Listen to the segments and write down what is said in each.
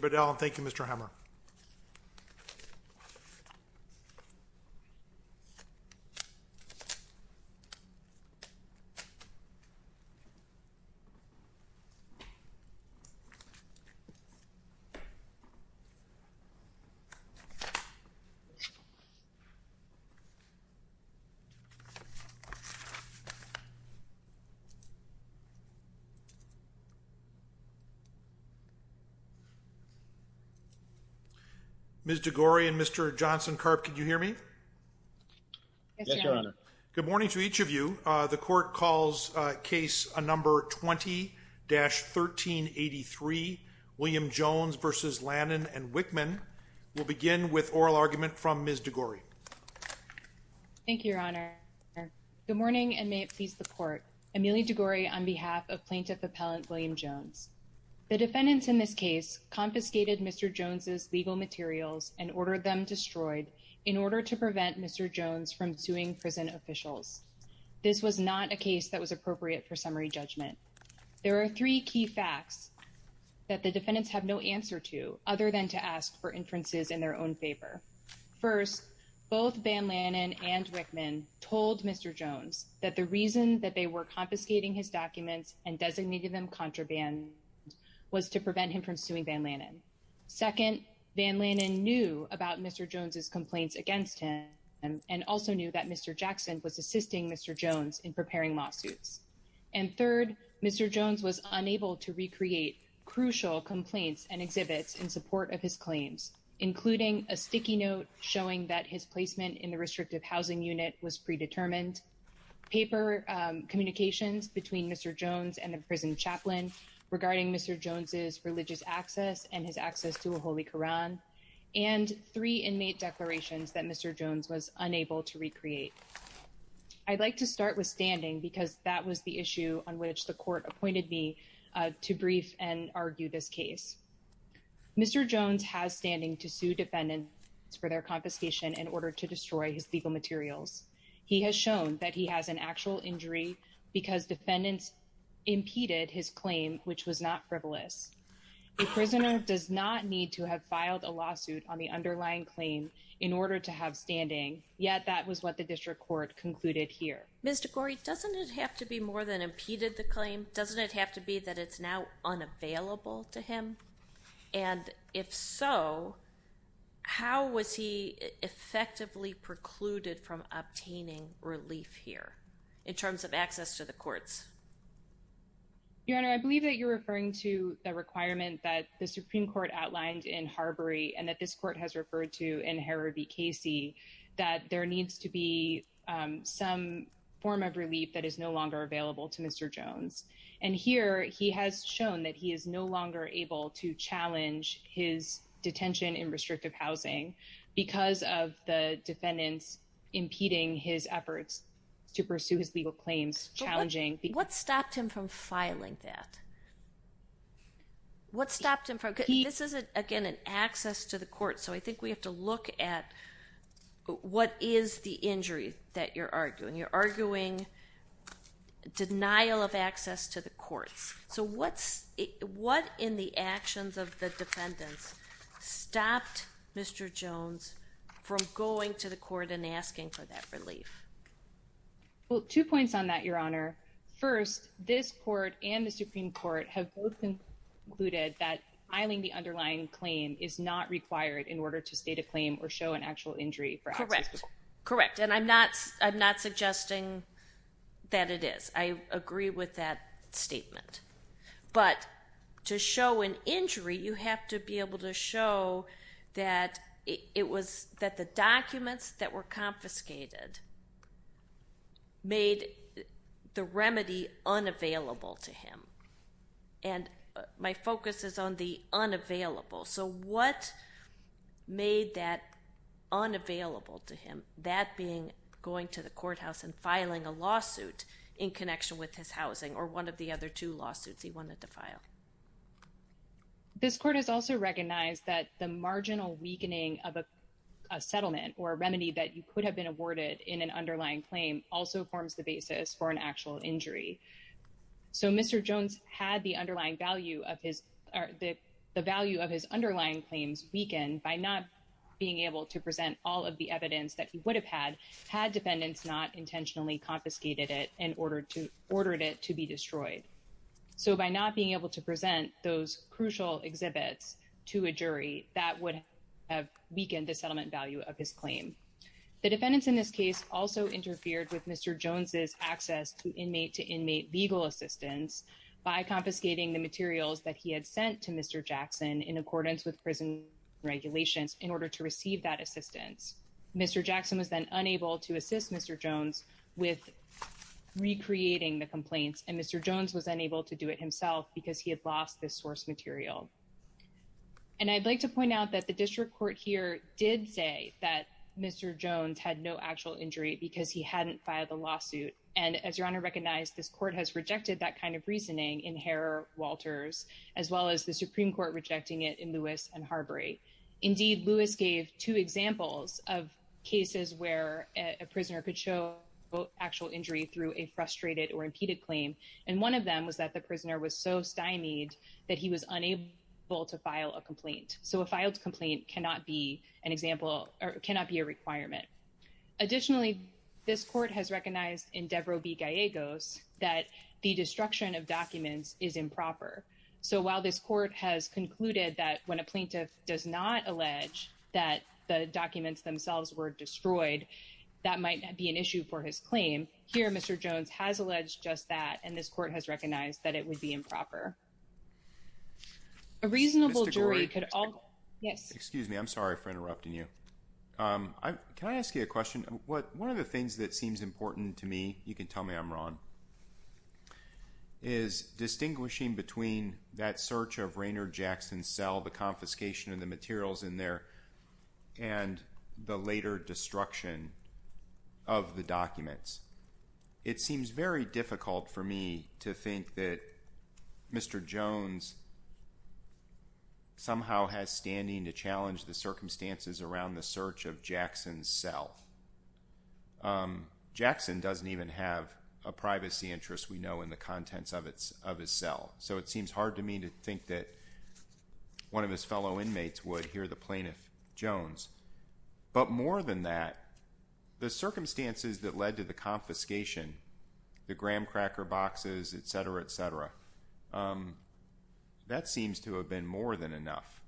Thank you, Mr. Hammer. Ms. DeGore and Mr. Johnson-Karp, can you hear me? Yes, Your Honor. Good morning to each of you. The court calls case number 20-1383, William Jones v. Lanen and Wickman. We'll begin with oral argument from Ms. DeGore. Thank you, Your Honor. Good morning and may it please the court. Emily DeGore on behalf of Plaintiff Appellant William Jones. The defendants in this case confiscated Mr. Jones' legal materials and ordered them destroyed in order to prevent Mr. Jones from suing prison officials. This was not a case that was appropriate for summary judgment. There are three key facts that the defendants have no answer to other than to ask for inferences in their own favor. First, both Van Lanen and Wickman told Mr. Jones that the reason that they were confiscating his documents and designated them contraband was to prevent him from suing Van Lanen. Second, Van Lanen knew about Mr. Jones' complaints against him and also knew that Mr. Jackson was assisting Mr. Jones in preparing lawsuits. And third, Mr. Jones was unable to recreate crucial complaints and exhibits in support of his claims, including a sticky note showing that his placement in the restrictive housing unit was predetermined, paper communications between Mr. Jones and the prison chaplain regarding Mr. Jones' religious access and his access to a holy Koran, and three inmate declarations that Mr. Jones was unable to recreate. I'd like to start with standing because that was the issue on which the court appointed me to brief and argue this case. Mr. Jones has standing to sue defendants for their confiscation in order to destroy his legal materials. He has shown that he has an actual injury because defendants impeded his claim, which was not frivolous. A prisoner does not need to have filed a lawsuit on the underlying claim in order to have standing. Yet that was what the district court concluded here. Mr. Gorey, doesn't it have to be more than impeded the claim? Doesn't it have to be that it's now unavailable to him? And if so, how was he effectively precluded from obtaining relief here in terms of access to the courts? Your Honor, I believe that you're referring to the requirement that the Supreme Court outlined in Harbury and that this court has referred to in Hara v. Casey, that there needs to be some form of relief that is no longer available to Mr. Jones. And here he has shown that he is no longer able to challenge his detention in restrictive housing because of the defendants impeding his efforts to pursue his legal claims. What stopped him from filing that? This is, again, an access to the court. So I think we have to look at what is the injury that you're arguing. You're arguing denial of access to the courts. So what in the actions of the defendants stopped Mr. Jones from going to the court and asking for that relief? Well, two points on that, Your Honor. First, this court and the Supreme Court have both concluded that filing the underlying claim is not required in order to state a claim or show an actual injury for access to the court. Correct. And I'm not suggesting that it is. I agree with that statement. But to show an injury, you have to be able to show that it was that the documents that were confiscated made the remedy unavailable to him. And my focus is on the unavailable. So what made that unavailable to him, that being going to the courthouse and filing a lawsuit in connection with his housing or one of the other two lawsuits he wanted to file? This court has also recognized that the marginal weakening of a settlement or a remedy that you could have been awarded in an underlying claim also forms the basis for an actual injury. So Mr. Jones had the underlying value of his or the value of his underlying claims weakened by not being able to present all of the evidence that he would have had, had defendants not intentionally confiscated it and ordered it to be destroyed. So by not being able to present those crucial exhibits to a jury, that would have weakened the settlement value of his claim. The defendants in this case also interfered with Mr. Jones's access to inmate to inmate legal assistance by confiscating the materials that he had sent to Mr. Jackson in accordance with prison regulations in order to receive that assistance. Mr. Jackson was then unable to assist Mr. Jones with recreating the complaints and Mr. Jones was unable to do it himself because he had lost this source material. And I'd like to point out that the district court here did say that Mr. Jones had no actual injury because he hadn't filed a lawsuit. And as Your Honor recognized, this court has rejected that kind of reasoning in Harrer-Walters, as well as the Supreme Court rejecting it in Lewis and Harbury. So a filed complaint cannot be an example or cannot be a requirement. Additionally, this court has recognized in Devereux v. Gallegos that the destruction of documents is improper. So while this court has concluded that when a plaintiff does not allege that the documents themselves were destroyed, that might not be an issue for his claim. Here, Mr. Jones has alleged just that, and this court has recognized that it would be improper. A reasonable jury could all… Excuse me. Yes. Excuse me. I'm sorry for interrupting you. Can I ask you a question? One of the things that seems important to me, you can tell me I'm wrong, is distinguishing between that search of Rainer Jackson's cell, the confiscation of the materials in there, and the later destruction of the documents. It seems very difficult for me to think that Mr. Jones somehow has standing to challenge the circumstances around the search of Jackson's cell. Jackson doesn't even have a privacy interest we know in the contents of his cell, so it seems hard to me to think that one of his fellow inmates would hear the plaintiff, Jones. But more than that, the circumstances that led to the confiscation, the graham cracker boxes, etc., etc., that seems to have been more than enough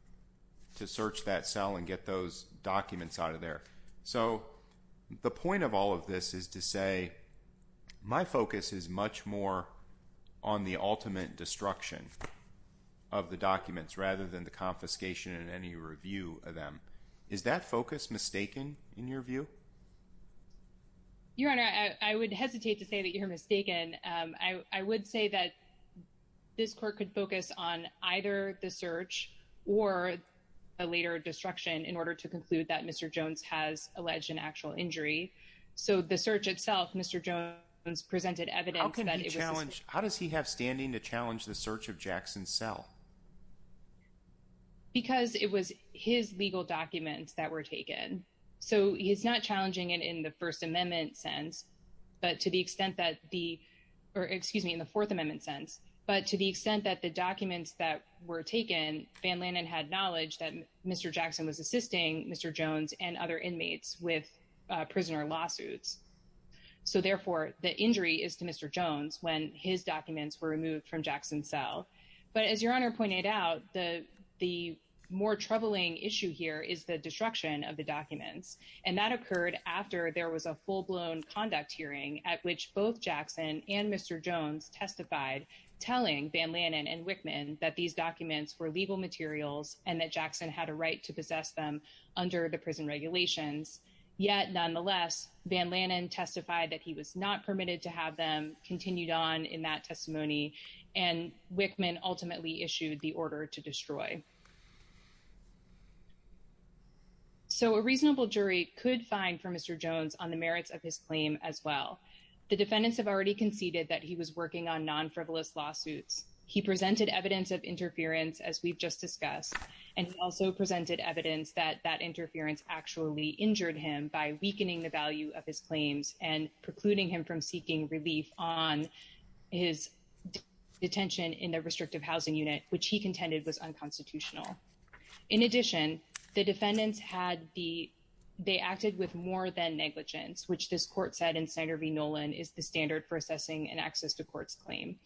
to search that cell and get those documents out of there. So the point of all of this is to say my focus is much more on the ultimate destruction of the documents rather than the confiscation and any review of them. Is that focus mistaken in your view? Your Honor, I would hesitate to say that you're mistaken. I would say that this court could focus on either the search or a later destruction in order to conclude that Mr. Jones has alleged an actual injury. So the search itself, Mr. Jones presented evidence that it was challenged. How does he have standing to challenge the search of Jackson's cell? Because it was his legal documents that were taken. So he's not challenging it in the First Amendment sense, but to the extent that the, or excuse me, in the Fourth Amendment sense. But to the extent that the documents that were taken, Van Lannen had knowledge that Mr. Jackson was assisting Mr. Jones and other inmates with prisoner lawsuits. So therefore, the injury is to Mr. Jones when his documents were removed from Jackson's cell. But as Your Honor pointed out, the more troubling issue here is the destruction of the documents. And that occurred after there was a full-blown conduct hearing at which both Jackson and Mr. Jones testified telling Van Lannen and Wickman that these documents were legal materials and that Jackson had a right to possess them under the prison regulations. Yet, nonetheless, Van Lannen testified that he was not permitted to have them continued on in that testimony and Wickman ultimately issued the order to destroy. So a reasonable jury could find for Mr. Jones on the merits of his claim as well. The defendants have already conceded that he was working on non-frivolous lawsuits. He presented evidence of interference, as we've just discussed. And he also presented evidence that that interference actually injured him by weakening the value of his claims and precluding him from seeking relief on his detention in the restrictive housing unit, which he contended was unconstitutional. In addition, the defendants had the, they acted with more than negligence, which this court said in Snyder v. Nolan is the standard for assessing an access to courts claim.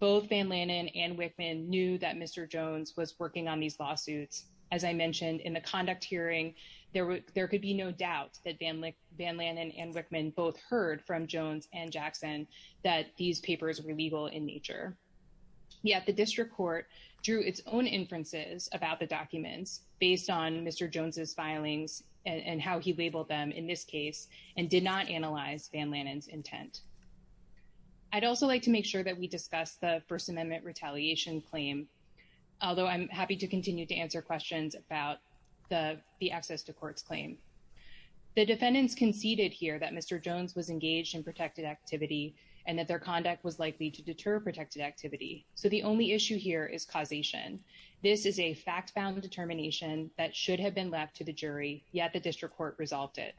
Both Van Lannen and Wickman knew that Mr. Jones was working on these lawsuits. As I mentioned in the conduct hearing, there could be no doubt that Van Lannen and Wickman both heard from Jones and Jackson that these papers were legal in nature. Yet the district court drew its own inferences about the documents based on Mr. Jones's filings and how he labeled them in this case and did not analyze Van Lannen's intent. I'd also like to make sure that we discuss the First Amendment retaliation claim, although I'm happy to continue to answer questions about the access to courts claim. The defendants conceded here that Mr. Jones was engaged in protected activity and that their conduct was likely to deter protected activity. So the only issue here is causation. This is a fact-bound determination that should have been left to the jury, yet the district court resolved it.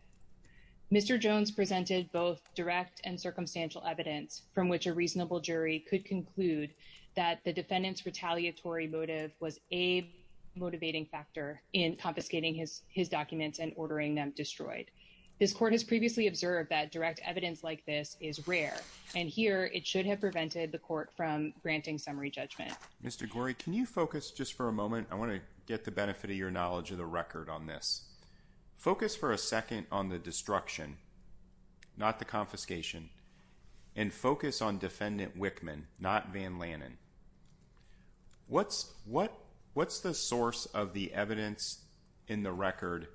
Mr. Jones presented both direct and circumstantial evidence from which a reasonable jury could conclude that the defendant's retaliatory motive was a motivating factor in confiscating his documents and ordering them destroyed. This court has previously observed that direct evidence like this is rare, and here it should have prevented the court from granting summary judgment. Mr. Gorey, can you focus just for a moment? I want to get the benefit of your knowledge of the record on this. Focus for a second on the destruction, not the confiscation, and focus on Defendant Wickman, not Van Lannen. What's the source of the evidence in the record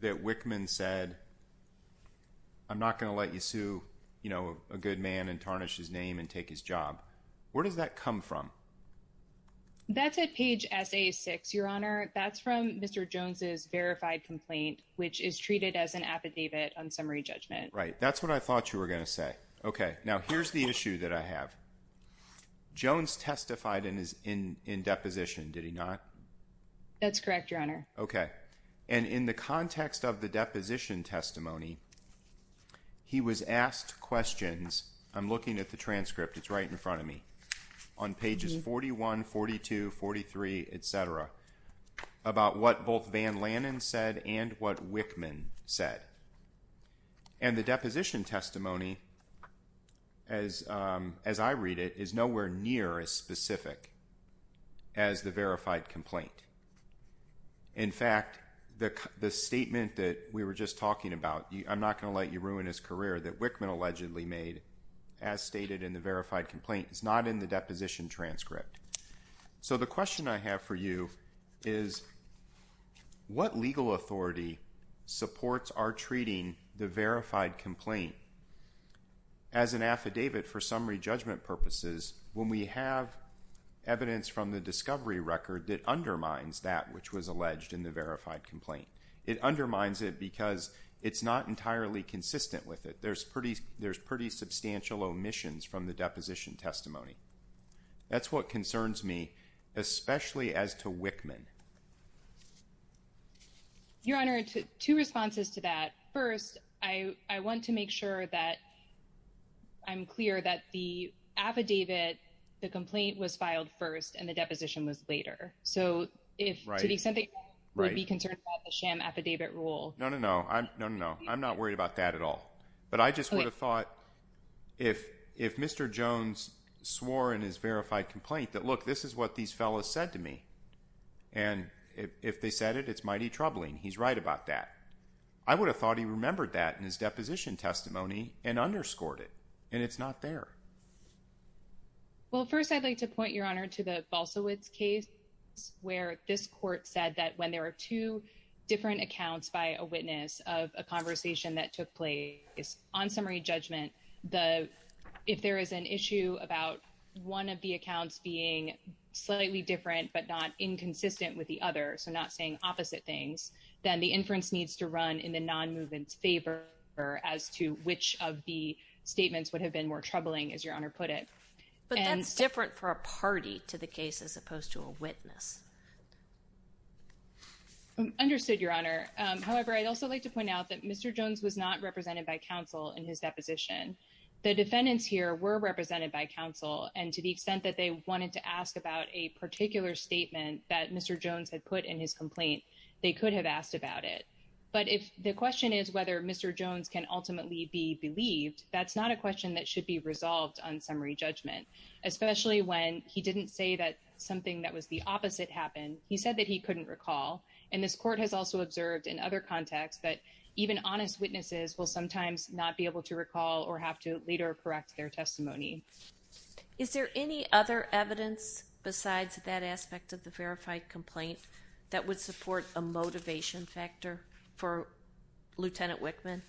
that Wickman said, I'm not going to let you sue a good man and tarnish his name and take his job? Where does that come from? That's at page SA6, Your Honor. That's from Mr. Jones's verified complaint, which is treated as an affidavit on summary judgment. Right, that's what I thought you were going to say. Okay, now here's the issue that I have. Jones testified in deposition, did he not? That's correct, Your Honor. Okay. And in the context of the deposition testimony, he was asked questions, I'm looking at the transcript, it's right in front of me, on pages 41, 42, 43, etc., about what both Van Lannen said and what Wickman said. And the deposition testimony, as I read it, is nowhere near as specific as the verified complaint. In fact, the statement that we were just talking about, I'm not going to let you ruin his career, that Wickman allegedly made, as stated in the verified complaint, is not in the deposition transcript. So the question I have for you is, what legal authority supports our treating the verified complaint as an affidavit for summary judgment purposes when we have evidence from the discovery record that undermines that which was alleged in the verified complaint? It undermines it because it's not entirely consistent with it. There's pretty substantial omissions from the deposition testimony. That's what concerns me, especially as to Wickman. Your Honor, two responses to that. First, I want to make sure that I'm clear that the affidavit, the complaint, was filed first and the deposition was later. So to the extent that you would be concerned about the sham affidavit rule. No, no, no. I'm not worried about that at all. But I just would have thought if Mr. Jones swore in his verified complaint that, look, this is what these fellows said to me. And if they said it, it's mighty troubling. He's right about that. I would have thought he remembered that in his deposition testimony and underscored it. And it's not there. Well, first, I'd like to point, Your Honor, to the Balsawitz case where this court said that when there are two different accounts by a witness of a conversation that took place on summary judgment, the if there is an issue about one of the accounts being slightly different but not inconsistent with the other. So not saying opposite things, then the inference needs to run in the non-movement's favor as to which of the statements would have been more troubling, as Your Honor put it. But that's different for a party to the case as opposed to a witness. Understood, Your Honor. However, I'd also like to point out that Mr. Jones was not represented by counsel in his deposition. The defendants here were represented by counsel. And to the extent that they wanted to ask about a particular statement that Mr. Jones had put in his complaint, they could have asked about it. But if the question is whether Mr. Jones can ultimately be believed, that's not a question that should be resolved on summary judgment, especially when he didn't say that something that was the opposite happened. As to Lieutenant Wickman, he said that he couldn't recall. And this court has also observed in other contexts that even honest witnesses will sometimes not be able to recall or have to later correct their testimony. Is there any other evidence besides that aspect of the verified complaint that would support a motivation factor for Lieutenant Wickman?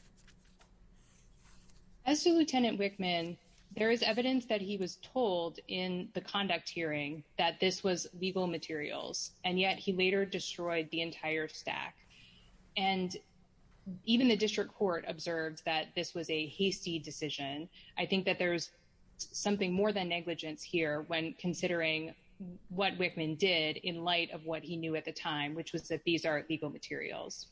As to Lieutenant Wickman, there is evidence that he was told in the conduct hearing that this was legal materials. And yet he later destroyed the entire stack. And even the district court observed that this was a hasty decision. I think that there's something more than negligence here when considering what Wickman did in light of what he knew at the time, which was that these are legal materials.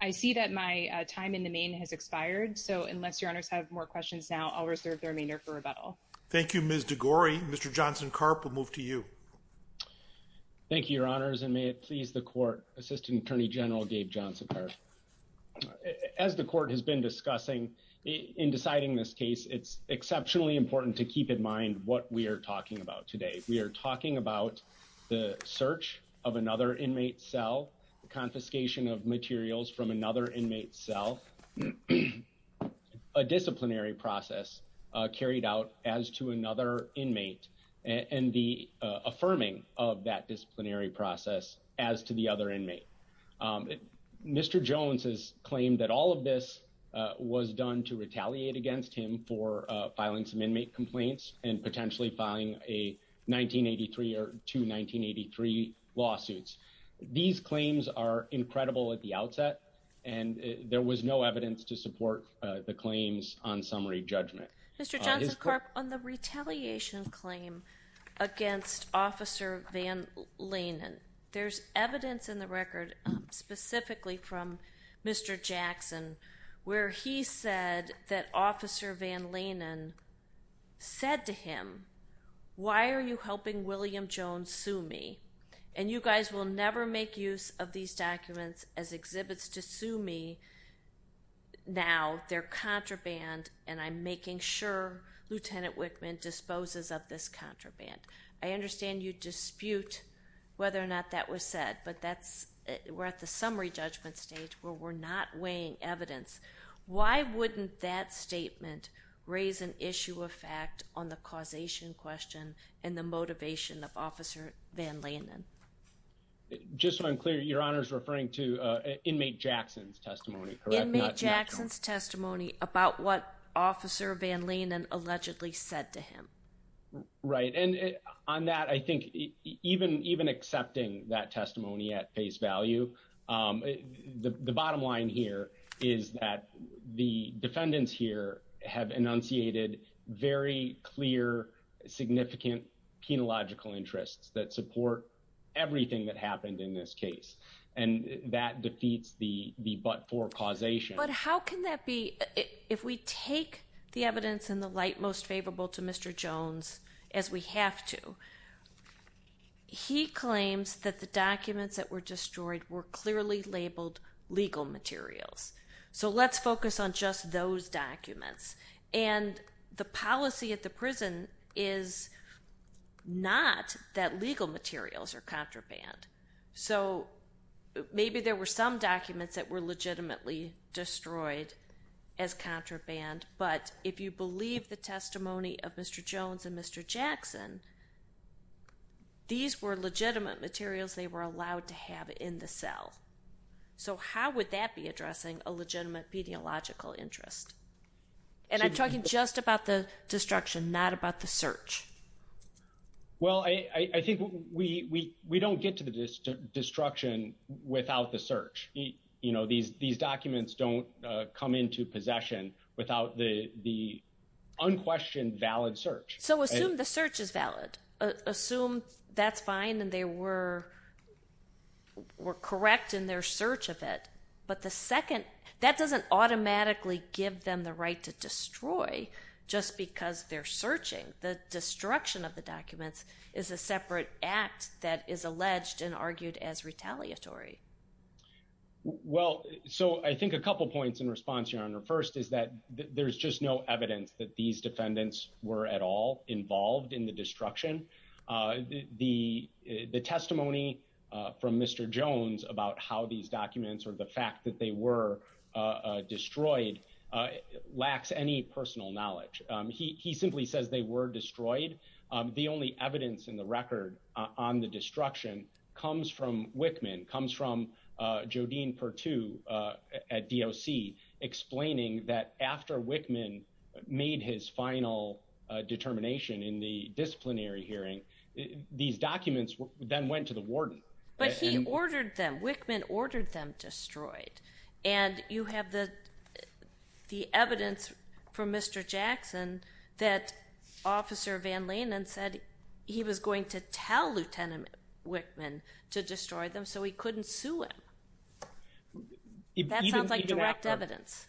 I see that my time in the main has expired. So unless your honors have more questions now, I'll reserve the remainder for rebuttal. Thank you, Ms. DeGore. Mr. Johnson Carp will move to you. Thank you, your honors. And may it please the court. Assistant Attorney General Dave Johnson. As the court has been discussing in deciding this case, it's exceptionally important to keep in mind what we are talking about today. We are talking about the search of another inmate cell, the confiscation of materials from another inmate cell, a disciplinary process carried out as to another inmate, and the affirming of that disciplinary process as to the other inmate. Mr. Jones has claimed that all of this was done to retaliate against him for filing some inmate complaints and potentially filing a 1983 or two 1983 lawsuits. These claims are incredible at the outset, and there was no evidence to support the claims on summary judgment. Mr. Johnson Carp, on the retaliation claim against Officer Van Lanen, there's evidence in the record specifically from Mr. Jackson where he said that Officer Van Lanen said to him, why are you helping William Jones sue me? And you guys will never make use of these documents as exhibits to sue me now. They're contraband, and I'm making sure Lieutenant Wickman disposes of this contraband. I understand you dispute whether or not that was said, but we're at the summary judgment stage where we're not weighing evidence. Why wouldn't that statement raise an issue of fact on the causation question and the motivation of Officer Van Lanen? Just so I'm clear, Your Honor's referring to inmate Jackson's testimony, correct? Inmate Jackson's testimony about what Officer Van Lanen allegedly said to him. Right. And on that, I think even even accepting that testimony at face value. The bottom line here is that the defendants here have enunciated very clear, significant penological interests that support everything that happened in this case. And that defeats the but for causation. But how can that be if we take the evidence in the light most favorable to Mr. Jones as we have to? He claims that the documents that were destroyed were clearly labeled legal materials. So let's focus on just those documents. And the policy at the prison is not that legal materials are contraband. So maybe there were some documents that were legitimately destroyed as contraband. But if you believe the testimony of Mr. Jones and Mr. Jackson, these were legitimate materials they were allowed to have in the cell. So how would that be addressing a legitimate pediological interest? And I'm talking just about the destruction, not about the search. Well, I think we we we don't get to the destruction without the search. You know, these these documents don't come into possession without the the unquestioned valid search. So assume the search is valid. Assume that's fine. And they were were correct in their search of it. But the second that doesn't automatically give them the right to destroy just because they're searching. The destruction of the documents is a separate act that is alleged and argued as retaliatory. Well, so I think a couple of points in response, Your Honor. First is that there's just no evidence that these defendants were at all involved in the destruction. The testimony from Mr. Jones about how these documents or the fact that they were destroyed lacks any personal knowledge. He simply says they were destroyed. The only evidence in the record on the destruction comes from Wickman, comes from Jodine Perttu at DOC, explaining that after Wickman made his final determination in the disciplinary hearing, these documents then went to the warden. But he ordered them. Wickman ordered them destroyed. And you have the evidence from Mr. Jackson that Officer Van Lenen said he was going to tell Lieutenant Wickman to destroy them so he couldn't sue him. That sounds like direct evidence.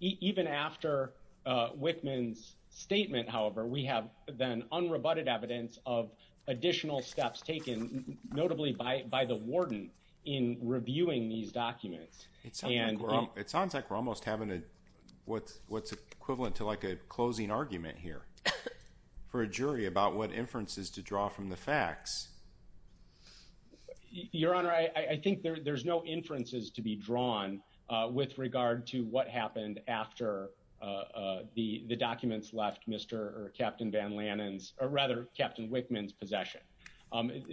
Even after Wickman's statement, however, we have then unrebutted evidence of additional steps taken, notably by the warden, in reviewing these documents. It sounds like we're almost having what's equivalent to like a closing argument here for a jury about what inferences to draw from the facts. Your Honor, I think there's no inferences to be drawn with regard to what happened after the documents left Mr. or Captain Van Lenen's or rather Captain Wickman's possession.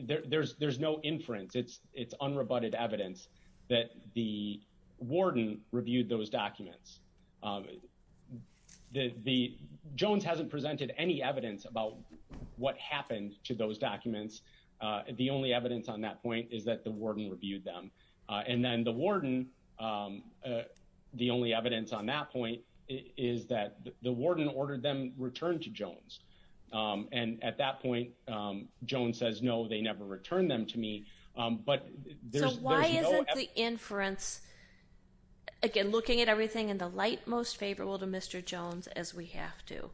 There's no inference. It's unrebutted evidence that the warden reviewed those documents. Jones hasn't presented any evidence about what happened to those documents. The only evidence on that point is that the warden reviewed them. And then the warden, the only evidence on that point is that the warden ordered them returned to Jones. And at that point, Jones says, no, they never returned them to me. So why isn't the inference, again, looking at everything in the light, most favorable to Mr. Jones as we have to?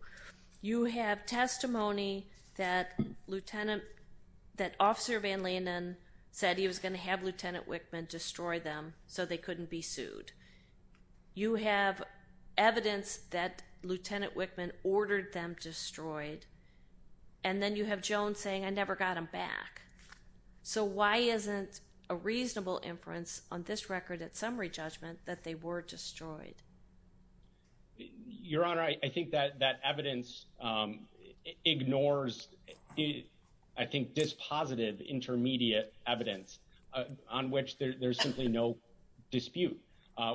You have testimony that Lieutenant, that Officer Van Lenen said he was going to have Lieutenant Wickman destroy them so they couldn't be sued. You have evidence that Lieutenant Wickman ordered them destroyed. And then you have Jones saying, I never got them back. So why isn't a reasonable inference on this record at summary judgment that they were destroyed? Your Honor, I think that that evidence ignores, I think, dispositive intermediate evidence on which there's simply no dispute,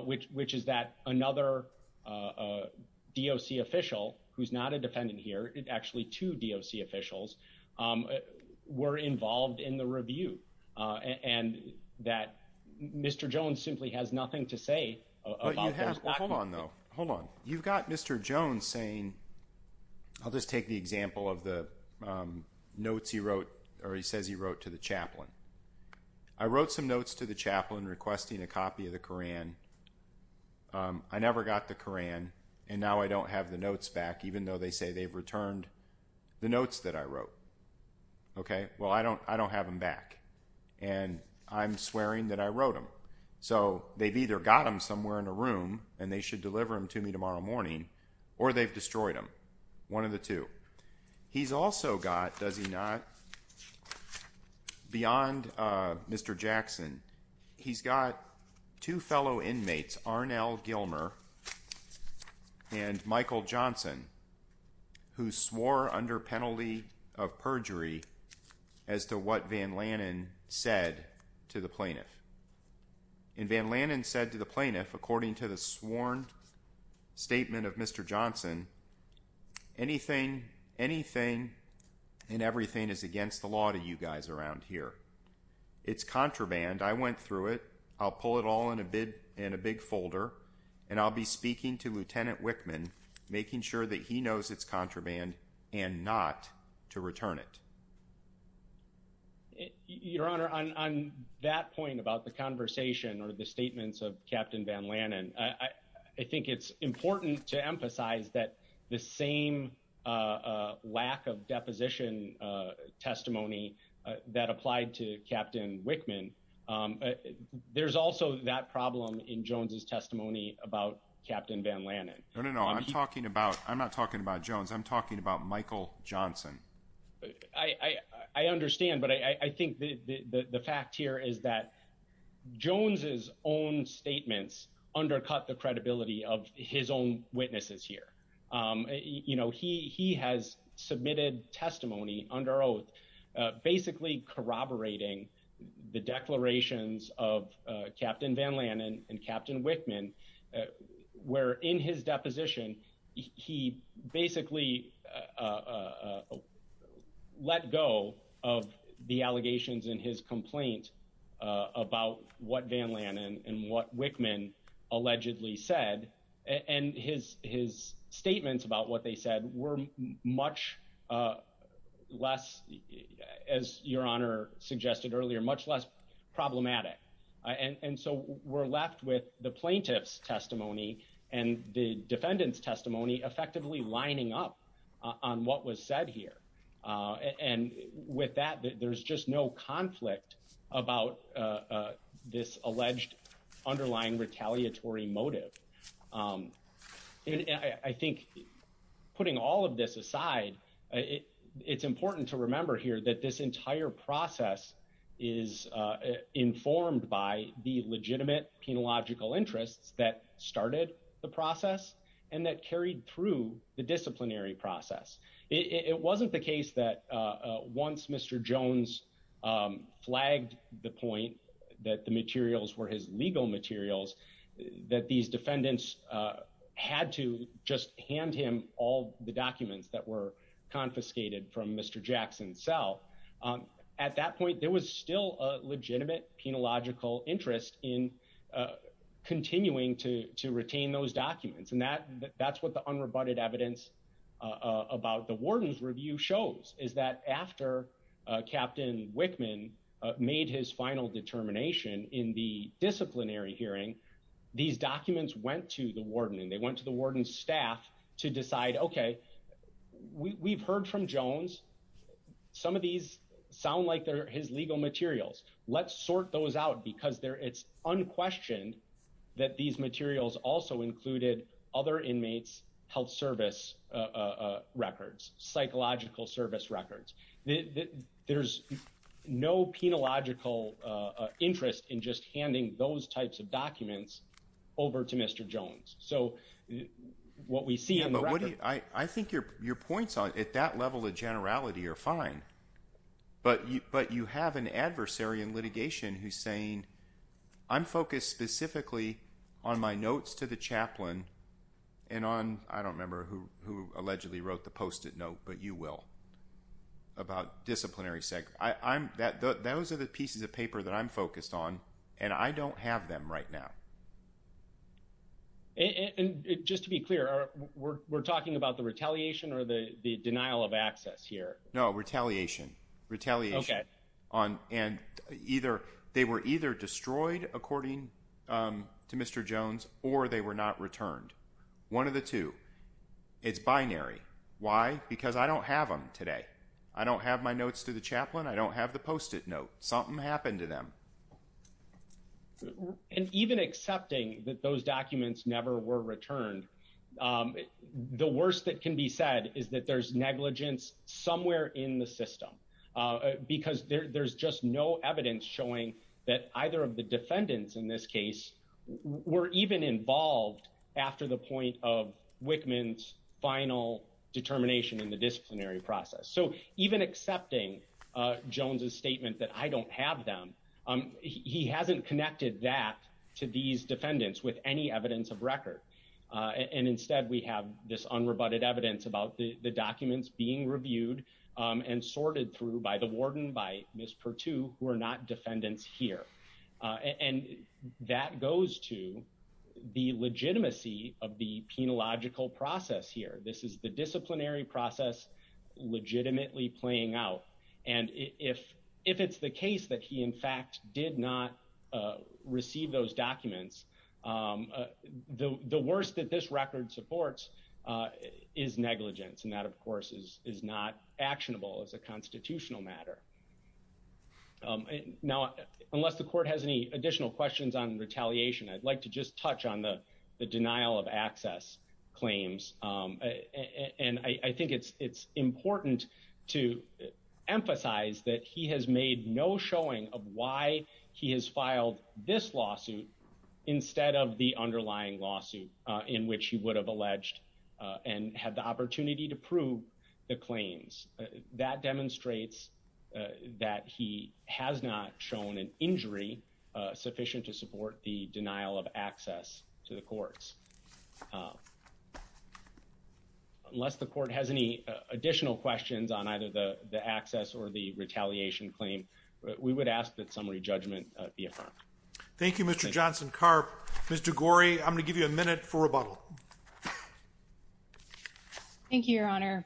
which is that another DOC official who's not a defendant here, actually two DOC officials, were involved in the review. And that Mr. Jones simply has nothing to say about those documents. But you have, hold on though, hold on. You've got Mr. Jones saying, I'll just take the example of the notes he wrote, or he says he wrote to the chaplain. I wrote some notes to the chaplain requesting a copy of the Koran. I never got the Koran. And now I don't have the notes back, even though they say they've returned the notes that I wrote. OK, well, I don't have them back. And I'm swearing that I wrote them. So they've either got them somewhere in a room, and they should deliver them to me tomorrow morning, or they've destroyed them, one of the two. He's also got, does he not, beyond Mr. Jackson, he's got two fellow inmates, Arnell Gilmer and Michael Johnson, who swore under penalty of perjury as to what Van Lannen said to the plaintiff. And Van Lannen said to the plaintiff, according to the sworn statement of Mr. Johnson, anything, anything and everything is against the law to you guys around here. It's contraband. I went through it. I'll pull it all in a big folder, and I'll be speaking to Lieutenant Wickman, making sure that he knows it's contraband and not to return it. Your Honor, on that point about the conversation or the statements of Captain Van Lannen, I think it's important to emphasize that the same lack of deposition testimony that applied to Captain Wickman. There's also that problem in Jones's testimony about Captain Van Lannen. No, no, no. I'm talking about I'm not talking about Jones. I'm talking about Michael Johnson. I understand. But I think the fact here is that Jones's own statements undercut the credibility of his own witnesses here. You know, he he has submitted testimony under oath, basically corroborating the declarations of Captain Van Lannen and Captain Wickman, where in his deposition, he basically let go of the allegations in his complaint about what Van Lannen and what Wickman allegedly said. And his his statements about what they said were much less, as Your Honor suggested earlier, much less problematic. And so we're left with the plaintiff's testimony and the defendant's testimony effectively lining up on what was said here. And with that, there's just no conflict about this alleged underlying retaliatory motive. I think putting all of this aside, it's important to remember here that this entire process is informed by the legitimate penological interests that started the process and that carried through the disciplinary process. It wasn't the case that once Mr. Jones flagged the point that the materials were his legal materials, that these defendants had to just hand him all the documents that were confiscated from Mr. Jackson's cell. At that point, there was still a legitimate penological interest in continuing to retain those documents. And that that's what the unrebutted evidence about the warden's review shows is that after Captain Wickman made his final determination in the disciplinary hearing, these documents went to the warden and they went to the warden's staff to decide, OK, we've heard from Jones. Some of these sound like they're his legal materials. Let's sort those out because it's unquestioned that these materials also included other inmates' health service records, psychological service records. There's no penological interest in just handing those types of documents over to Mr. Jones. So what we see in the record… But what do you – I think your points at that level of generality are fine, but you have an adversary in litigation who's saying, I'm focused specifically on my notes to the chaplain and on – I don't remember who allegedly wrote the post-it note, but you will – about disciplinary – those are the pieces of paper that I'm focused on, and I don't have them right now. And just to be clear, we're talking about the retaliation or the denial of access here? No, retaliation. Retaliation. OK. And either – they were either destroyed according to Mr. Jones or they were not returned. One of the two. It's binary. Why? Because I don't have them today. I don't have my notes to the chaplain. I don't have the post-it note. Something happened to them. And even accepting that those documents never were returned, the worst that can be said is that there's negligence somewhere in the system, because there's just no evidence showing that either of the defendants in this case were even involved after the point of Wickman's final determination in the disciplinary process. So even accepting Jones's statement that I don't have them, he hasn't connected that to these defendants with any evidence of record. And instead, we have this unrebutted evidence about the documents being reviewed and sorted through by the warden, by Ms. Perttu, who are not defendants here. And that goes to the legitimacy of the penological process here. This is the disciplinary process legitimately playing out. And if it's the case that he, in fact, did not receive those documents, the worst that this record supports is negligence. And that, of course, is not actionable as a constitutional matter. Now, unless the court has any additional questions on retaliation, I'd like to just touch on the denial of access claims. And I think it's important to emphasize that he has made no showing of why he has filed this lawsuit instead of the underlying lawsuit in which he would have alleged and had the opportunity to prove the claims. That demonstrates that he has not shown an injury sufficient to support the denial of access to the courts. Unless the court has any additional questions on either the access or the retaliation claim, we would ask that summary judgment be affirmed. Thank you, Mr. Johnson-Karp. Mr. Gorey, I'm going to give you a minute for rebuttal. Thank you, Your Honor.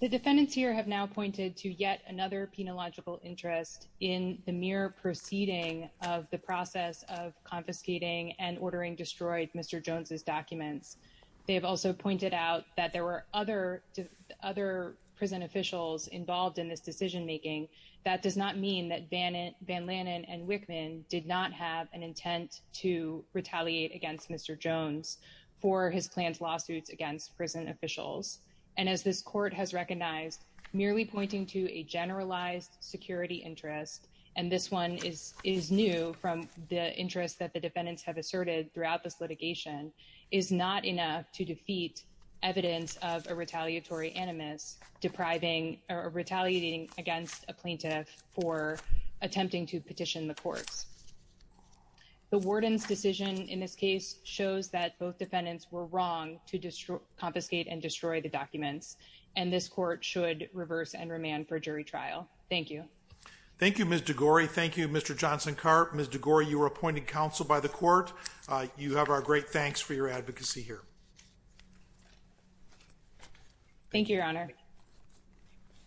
The defendants here have now pointed to yet another penological interest in the mere proceeding of the process of confiscating and ordering destroyed Mr. Jones's documents. They have also pointed out that there were other prison officials involved in this decision-making. That does not mean that Van Lannen and Wickman did not have an intent to retaliate against Mr. Jones for his planned lawsuits against prison officials. And as this court has recognized, merely pointing to a generalized security interest, and this one is new from the interest that the defendants have asserted throughout this litigation, is not enough to defeat evidence of a retaliatory animus, or retaliating against a plaintiff for attempting to petition the courts. The warden's decision in this case shows that both defendants were wrong to confiscate and destroy the documents, and this court should reverse and remand for jury trial. Thank you. Thank you, Ms. DeGorey. Thank you, Mr. Johnson-Karp. Ms. DeGorey, you are appointed counsel by the court. You have our great thanks for your advocacy here. Thank you, Your Honor.